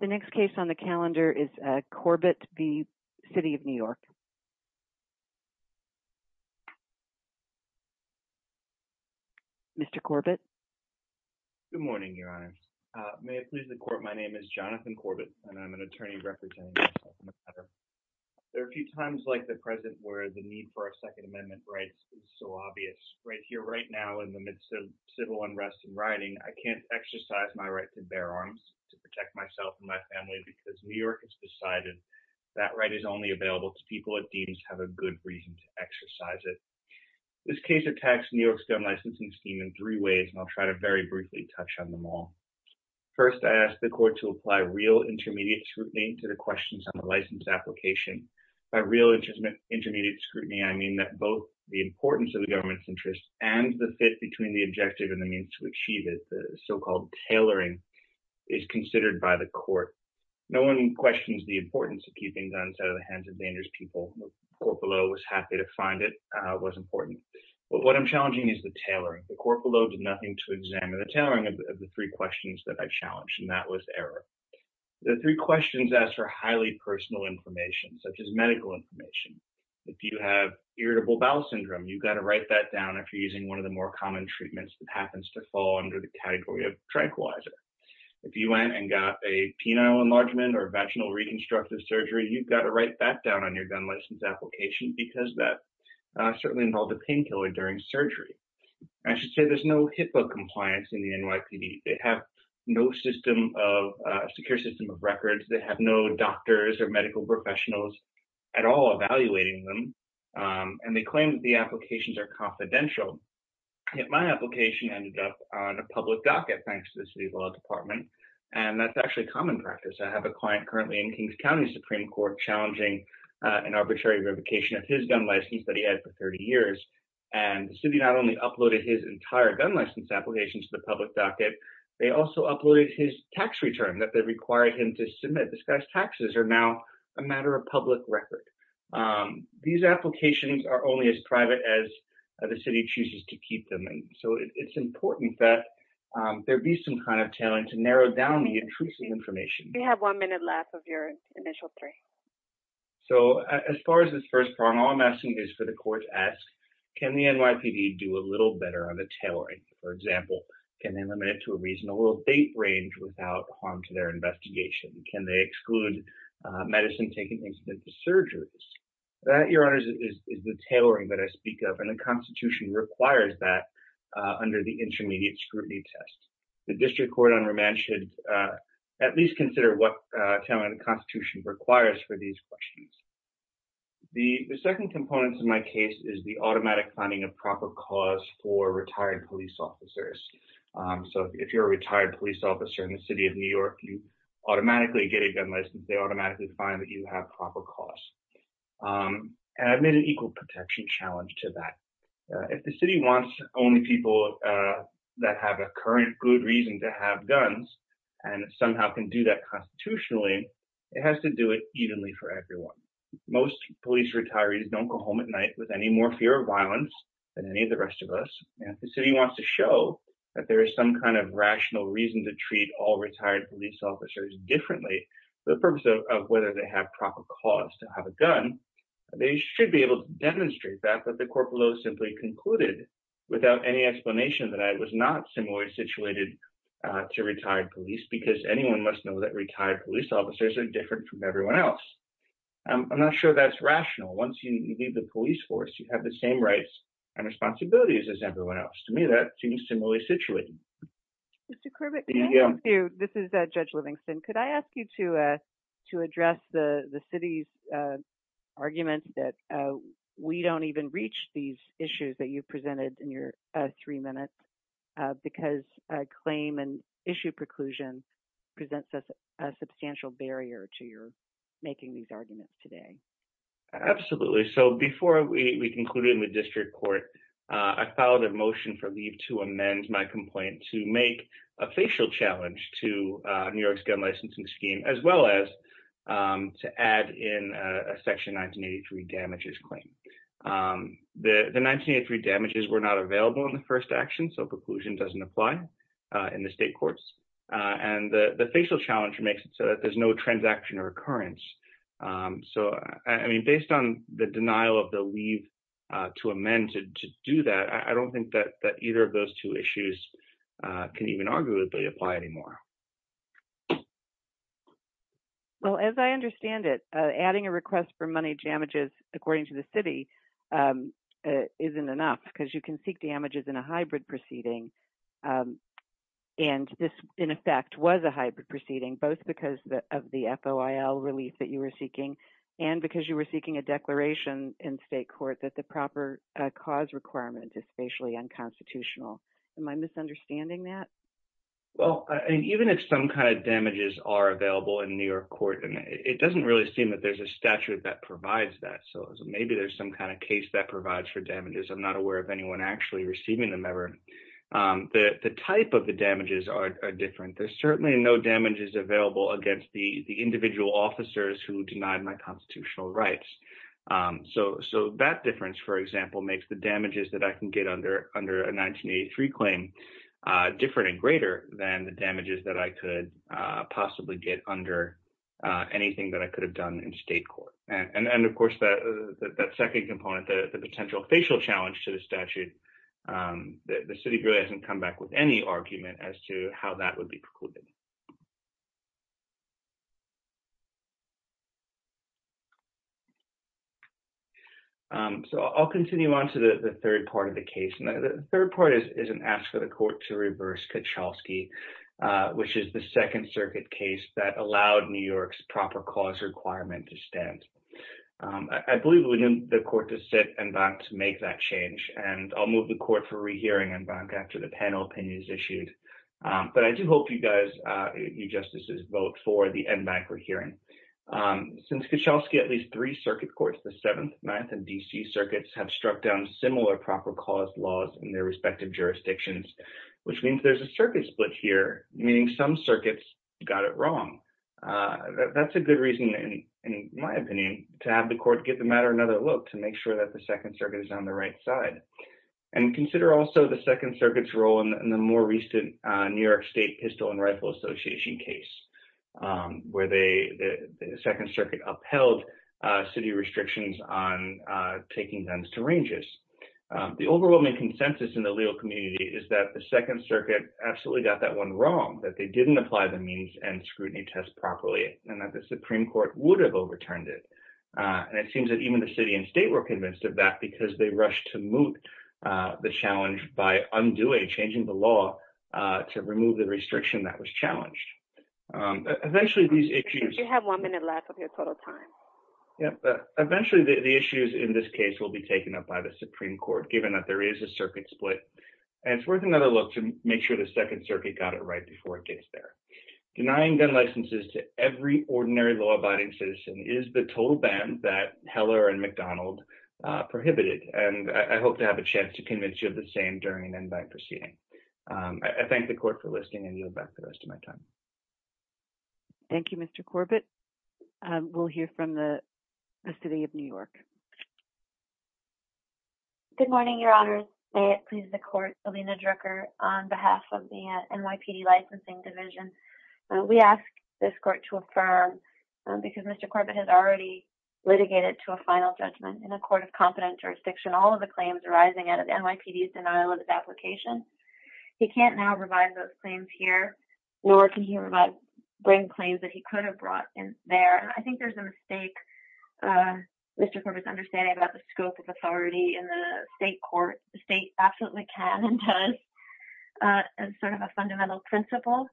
The next case on the calendar is Corbett v. City of New York. Mr. Corbett. Good morning, Your Honor. May it please the Court, my name is Jonathan Corbett and I'm an attorney representing myself in the matter. There are a few times like the present where the need for our Second Amendment rights is so obvious. Right here, right now, in the midst of my family because New York has decided that right is only available to people that deems to have a good reason to exercise it. This case attacks New York's government licensing scheme in three ways and I'll try to very briefly touch on them all. First, I ask the Court to apply real intermediate scrutiny to the questions on the license application. By real intermediate scrutiny, I mean that both the importance of the government's interest and the fit between the objective and the the so-called tailoring is considered by the Court. No one questions the importance of keeping guns out of the hands of dangerous people. The Court below was happy to find it was important. What I'm challenging is the tailoring. The Court below did nothing to examine the tailoring of the three questions that I challenged and that was error. The three questions ask for highly personal information such as medical information. If you have irritable bowel syndrome, you've got to write that down if you're using one of the more common treatments that happens to fall under the category of tranquilizer. If you went and got a penile enlargement or vaginal reconstructive surgery, you've got to write that down on your gun license application because that certainly involved a painkiller during surgery. I should say there's no HIPAA compliance in the NYPD. They have no system of secure system of records. They have no doctors or medical professionals at all evaluating them and they claim that the applications are confidential. Yet my application ended up on a public docket thanks to the city's law department and that's actually common practice. I have a client currently in Kings County Supreme Court challenging an arbitrary revocation of his gun license that he had for 30 years and the city not only uploaded his entire gun license application to the public docket, they also uploaded his tax return that they required him to submit. This guy's taxes are now a matter of public record. These applications are only as private as the city chooses to keep them and so it's important that there be some kind of talent to narrow down the intrusive information. You have one minute left of your initial three. So as far as this first part, all I'm asking is for the court to ask, can the NYPD do a little better on the tailoring? For example, can they limit it to a reasonable date range without harm to their investigation? Can they exclude medicine-taking incidents to surgeries? That, Your Honors, is the tailoring that I speak of and the Constitution requires that under the intermediate scrutiny test. The district court under me should at least consider what talent the Constitution requires for these questions. The second component to my case is the automatic finding of proper cause for retired police officers. So if you're a retired police officer in the city of New York, you automatically get a gun license. They automatically find that you have proper cause and I've made an equal protection challenge to that. If the city wants only people that have a current good reason to have guns and somehow can do that constitutionally, it has to do it evenly for everyone. Most police retirees don't go home at night with any more fear of violence than any rest of us. If the city wants to show that there is some kind of rational reason to treat all retired police officers differently for the purpose of whether they have proper cause to have a gun, they should be able to demonstrate that, but the court below simply concluded without any explanation that I was not similarly situated to retired police because anyone must know that retired police officers are different from everyone else. I'm not sure that's rational. Once you leave the police force, you have the same rights and responsibilities as everyone else. To me, that seems similarly situated. Mr. Kervick, this is Judge Livingston. Could I ask you to address the city's argument that we don't even reach these issues that you've presented in your three minutes because a claim and issue preclusion presents us a substantial barrier to your making these arguments today? Absolutely. Before we concluded in the district court, I filed a motion for leave to amend my complaint to make a facial challenge to New York's gun licensing scheme as well as to add in a Section 1983 damages claim. The 1983 damages were not available in the first action, so preclusion doesn't apply in the state courts. The facial challenge makes it so that there's no transaction or occurrence. Based on the denial of the leave to amend to do that, I don't think that either of those two issues can even arguably apply anymore. As I understand it, adding a request for money damages, according to the city, isn't enough because you can seek damages in a hybrid proceeding. This, in effect, was a hybrid proceeding, both because of the FOIL relief that you were seeking and because you were seeking a declaration in state court that the proper cause requirement is facially unconstitutional. Am I misunderstanding that? Even if some kind of damages are available in New York court, it doesn't really seem that there's a statute that provides that. Maybe there's some kind of case that provides for damages. I'm not sure. The type of the damages are different. There's certainly no damages available against the individual officers who denied my constitutional rights. That difference, for example, makes the damages that I can get under a 1983 claim different and greater than the damages that I could possibly get under anything that I could have done in state court. Of course, that second component, the potential facial challenge to the statute, the city really hasn't come back with any argument as to how that would be precluded. I'll continue on to the third part of the case. The third part is an ask for the court to reverse Kuchelski, which is the Second Circuit case that allowed New York's proper cause requirement to court to sit and not to make that change. I'll move the court for rehearing and back after the panel opinion is issued. I do hope you guys, you justices vote for the end back for hearing. Since Kuchelski, at least three circuit courts, the Seventh, Ninth, and D.C. circuits have struck down similar proper cause laws in their respective jurisdictions, which means there's a circuit split here, meaning some circuits got it wrong. That's a good reason, in my opinion, to have the court get the matter another look, to make sure that the Second Circuit is on the right side. Consider also the Second Circuit's role in the more recent New York State Pistol and Rifle Association case, where the Second Circuit upheld city restrictions on taking guns to ranges. The overwhelming consensus in the legal community is that the Second Circuit absolutely got that one wrong, that they didn't apply the means and scrutiny test properly, and that the Supreme Court would have overturned it. And it seems that even the city and state were convinced of that because they rushed to moot the challenge by undoing, changing the law to remove the restriction that was challenged. Eventually these issues... You have one minute left of your total time. Yeah, eventually the issues in this case will be taken up by the Supreme Court, given that there is a circuit split. And it's worth another look to make sure the Second Circuit got it right before it gets there. Denying gun licenses to every ordinary law-abiding citizen is the total ban that Heller and McDonald prohibited. And I hope to have a chance to convince you of the same during an in-bank proceeding. I thank the court for listening and yield back the rest of my time. Thank you, Mr. Corbett. We'll hear from the City of New York. Good morning, Your Honor. May it please the court, Alina Drucker on behalf of the NYPD Licensing Division. We ask this court to affirm, because Mr. Corbett has already litigated to a final judgment in a court of competent jurisdiction, all of the claims arising out of the NYPD's denial of its application. He can't now revive those claims here, nor can he bring claims that he could have brought in there. I think there's a mistake, Mr. Corbett's understanding about the scope of authority in the state court. The state absolutely can and does, as sort of a fundamental principle,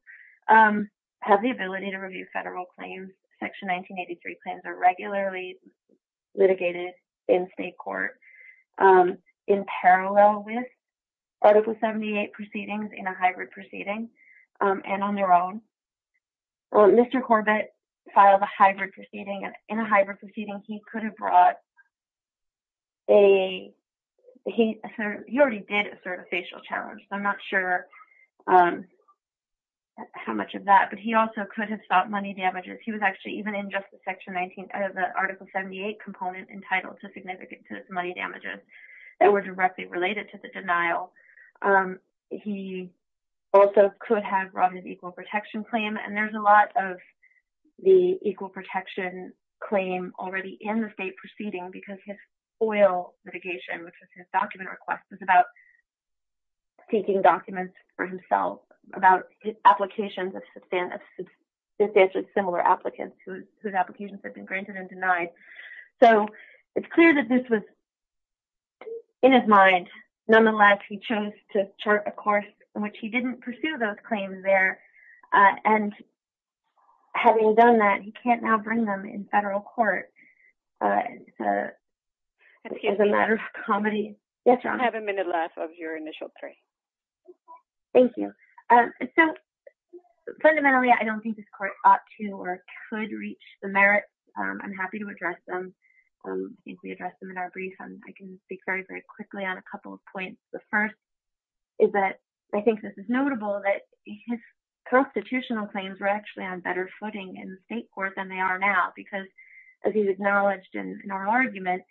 have the ability to review federal claims. Section 1983 claims are regularly litigated in state court in parallel with Article 78 proceedings in a hybrid proceeding and on their own. Mr. Corbett filed a hybrid proceeding, and in a hybrid proceeding, he could have brought a—he already did assert a facial challenge, so I'm not sure how much of that, but he also could have sought money damages. He was actually, even in just the Article 78 component, entitled to significant money damages that were directly related to the Robin Hood Equal Protection Claim, and there's a lot of the Equal Protection Claim already in the state proceeding because his oil litigation, which was his document request, was about seeking documents for himself, about his applications of substantially similar applicants whose applications had been granted and denied. So, it's clear that this was in his mind. Nonetheless, he chose to chart a course in which he didn't pursue those claims there, and having done that, he can't now bring them in federal court. Excuse me. As a matter of comedy. Yes, Your Honor. You have a minute left of your initial three. Thank you. So, fundamentally, I don't think this court ought to or could reach the merits. I'm happy to address them. I think we addressed them in our brief, and I can speak very, very quickly on a couple of points. The first is that I think this is notable that his constitutional claims were actually on better footing in the state court than they are now because, as he acknowledged in our argument,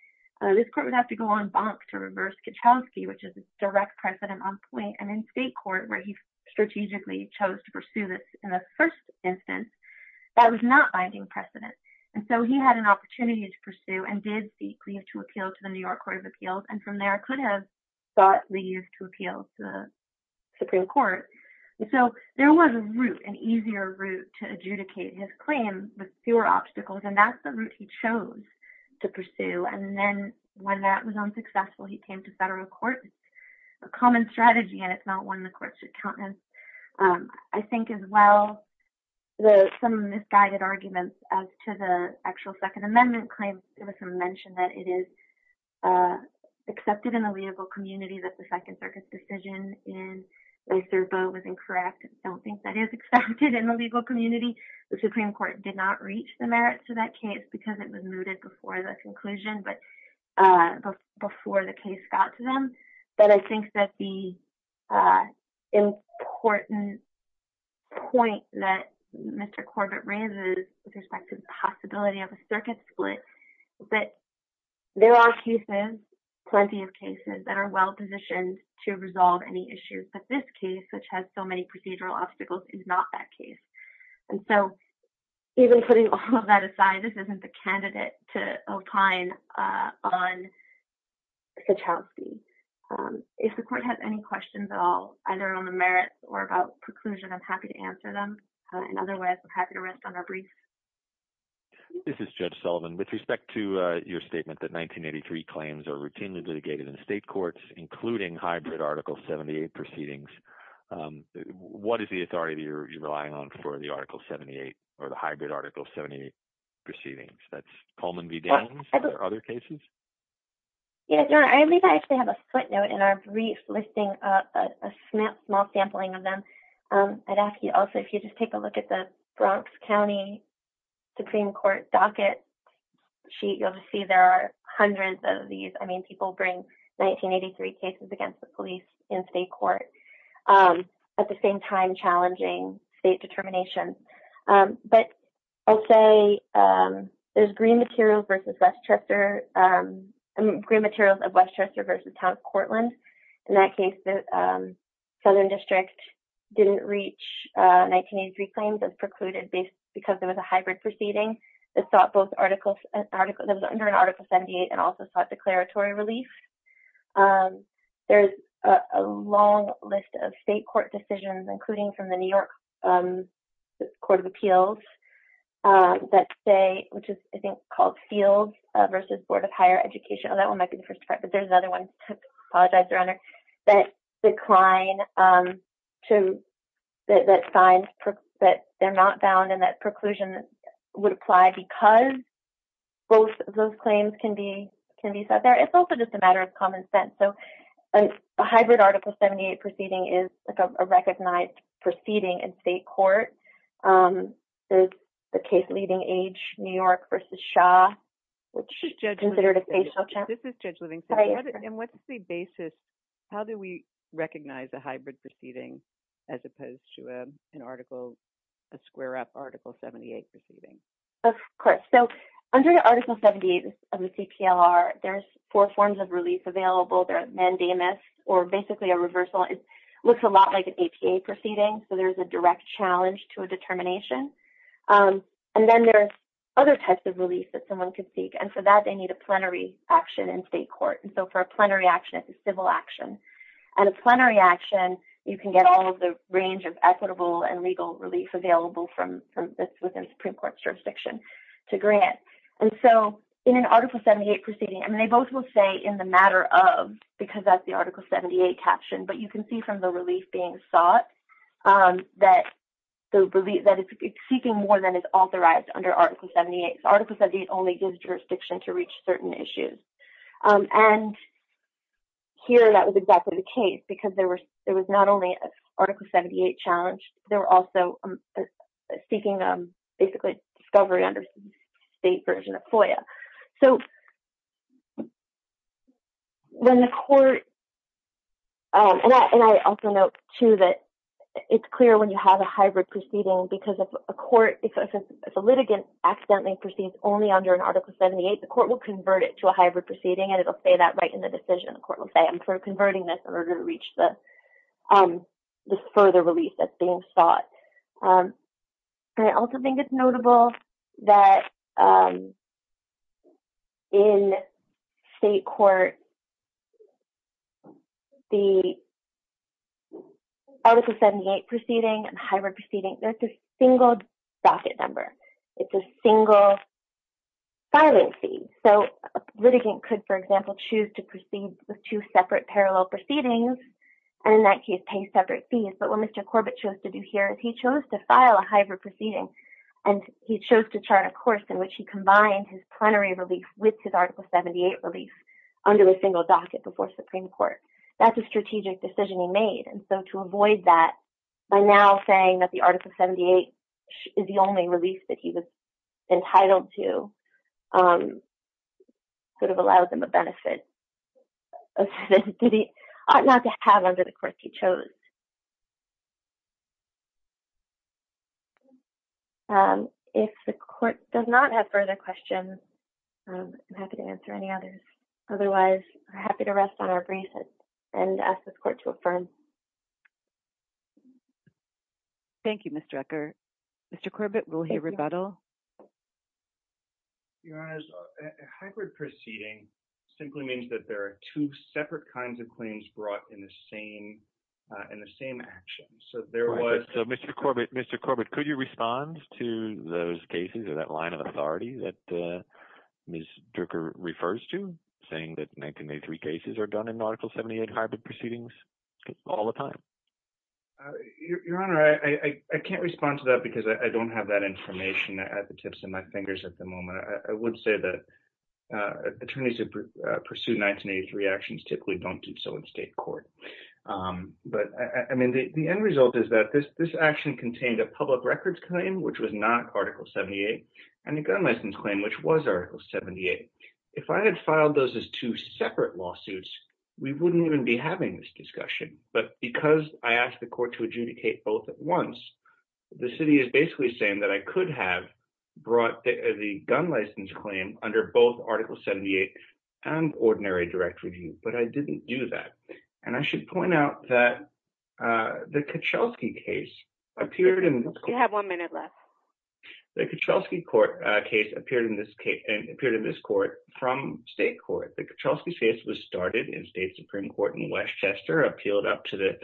this court would have to go on bonk to reverse Kuchelski, which is a direct precedent on point, and in state court, where he strategically chose in the first instance, that was not binding precedent. And so, he had an opportunity to pursue and did seek leave to appeal to the New York Court of Appeals, and from there, could have sought leave to appeal to the Supreme Court. So, there was a route, an easier route, to adjudicate his claim with fewer obstacles, and that's the route he chose to pursue. And then, when that was unsuccessful, he came to federal court. It's a common strategy, and it's not one the courts should countenance. I think, as well, some misguided arguments as to the actual Second Amendment claims. There was some mention that it is accepted in the legal community that the Second Circuit's decision in Lacerbeau was incorrect. I don't think that is accepted in the legal community. The Supreme Court did not reach the merits of that case because it was mooted before the conclusion, but before the case got to them. But I think that the important point that Mr. Corbett raises with respect to the possibility of a circuit split, that there are cases, plenty of cases, that are well-positioned to resolve any issues, but this case, which has so many procedural obstacles, is not that case. And so, even putting all of that aside, this isn't the candidate to opine on Kachowski. If the court has any questions at all, either on the merits or about preclusion, I'm happy to answer them. In other words, I'm happy to rest on our briefs. This is Judge Sullivan. With respect to your statement that 1983 claims are routinely litigated in state courts, including hybrid Article 78 proceedings, what is the authority you're relying on for the Article 78 or the hybrid Article 78 proceedings? That's Coleman v. Danes? Are there other cases? Yeah, I believe I actually have a footnote in our brief listing, a small sampling of them. I'd ask you also, if you just take a look at the Bronx County Supreme Court docket sheet, you'll see there are hundreds of these. I mean, people bring 1983 cases against the police in state court, at the same time challenging state determination. But I'll say there's Green Materials of Westchester v. Town of Cortland. In that case, the Southern District didn't reach 1983 claims as precluded because there was a decrease. There's a long list of state court decisions, including from the New York Court of Appeals that say, which is, I think, called Fields v. Board of Higher Education. Oh, that one might be the first part, but there's another one. I apologize, Your Honor. That decline, that signs that they're not bound and that preclusion would apply because both those claims can be said there. It's also just a matter of common sense. So, a hybrid Article 78 proceeding is a recognized proceeding in state court. There's the case Leading Age, New York v. Shaw, which is considered a facial check. This is Judge Livingston. And what's the basis? How do we recognize a hybrid proceeding as opposed to a square up Article 78 proceeding? Of course. So, under Article 78 of the CPLR, there's four forms of release available. There are mandamus, or basically a reversal. It looks a lot like an APA proceeding. So, there's a direct challenge to a determination. And then there's other types of release that someone could seek. And for that, they need a plenary action in state court. And so, for a plenary action, it's a civil action. And a plenary action, you can get all of the range of equitable and legal relief available within Supreme Court jurisdiction to grant. And so, in an Article 78 proceeding, and they both will say in the matter of, because that's the Article 78 caption, but you can see from the relief being sought that it's seeking more than is authorized under Article 78. Article 78 only gives jurisdiction to reach certain issues. And here, that was exactly the case because there was not only an Article 78 challenge, they were also seeking basically discovery under state version of FOIA. So, when the court, and I also note too that it's clear when you have a hybrid proceeding because if a court, if a litigant accidentally proceeds only under an Article 78, the court will convert it to a hybrid proceeding and it'll say that right in the decision. The court will say, I'm converting this in order to reach this further release that's being sought. I also think it's notable that in state court, the Article 78 proceeding and hybrid proceeding, that's a single docket number. It's a single filing fee. So, a litigant could, for example, choose to proceed with two separate parallel proceedings and in that case pay separate fees. But what Mr. Corbett chose to do here is he chose to file a hybrid proceeding and he chose to chart a course in which he combined his plenary relief with his Article 78 relief under a single docket before Supreme Court. That's a strategic decision he made. And so, to avoid that, by now saying that the Article 78 is the only release that he was entitled to, could have allowed them a benefit not to have under the court he chose. If the court does not have further questions, I'm happy to answer any others. Otherwise, I'm happy to rest on our braces and ask this court to affirm. Thank you, Ms. Drucker. Mr. Corbett, will he rebuttal? Your Honor, a hybrid proceeding simply means that there are two separate kinds of claims brought in the same action. So, there was... So, Mr. Corbett, could you respond to those cases or that line of authority that Ms. Drucker refers to saying that 1983 cases are done in Article 78 hybrid proceedings? All the time. Your Honor, I can't respond to that because I don't have that information at the tips of my fingers at the moment. I would say that attorneys who pursue 1983 actions typically don't do so in state court. But, I mean, the end result is that this action contained a public records claim, which was not Article 78, and a gun license claim, which was Article 78. If I had filed those as two lawsuits, we wouldn't even be having this discussion. But because I asked the court to adjudicate both at once, the city is basically saying that I could have brought the gun license claim under both Article 78 and ordinary direct review, but I didn't do that. And I should point out that the Kachelski case appeared in... You have one minute left. The Kachelski case appeared in this court from state court. The Kachelski case was started in state Supreme Court in Westchester, appealed up to the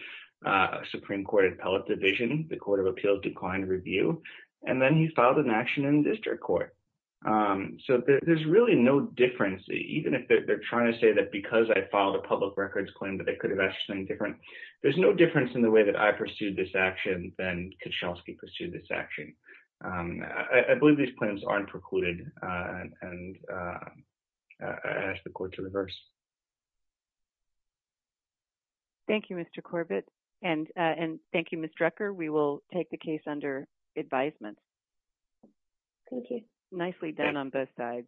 Supreme Court Appellate Division, the Court of Appeals declined review, and then he filed an action in district court. So there's really no difference, even if they're trying to say that because I filed a public records claim that I could have asked something different. There's no difference in the way that I pursued this action than Kachelski pursued this action. I believe these claims aren't precluded, and I ask the court to reverse. Thank you, Mr. Corbett. And thank you, Ms. Drecker. We will take the case under advisement. Thank you. Nicely done on both sides.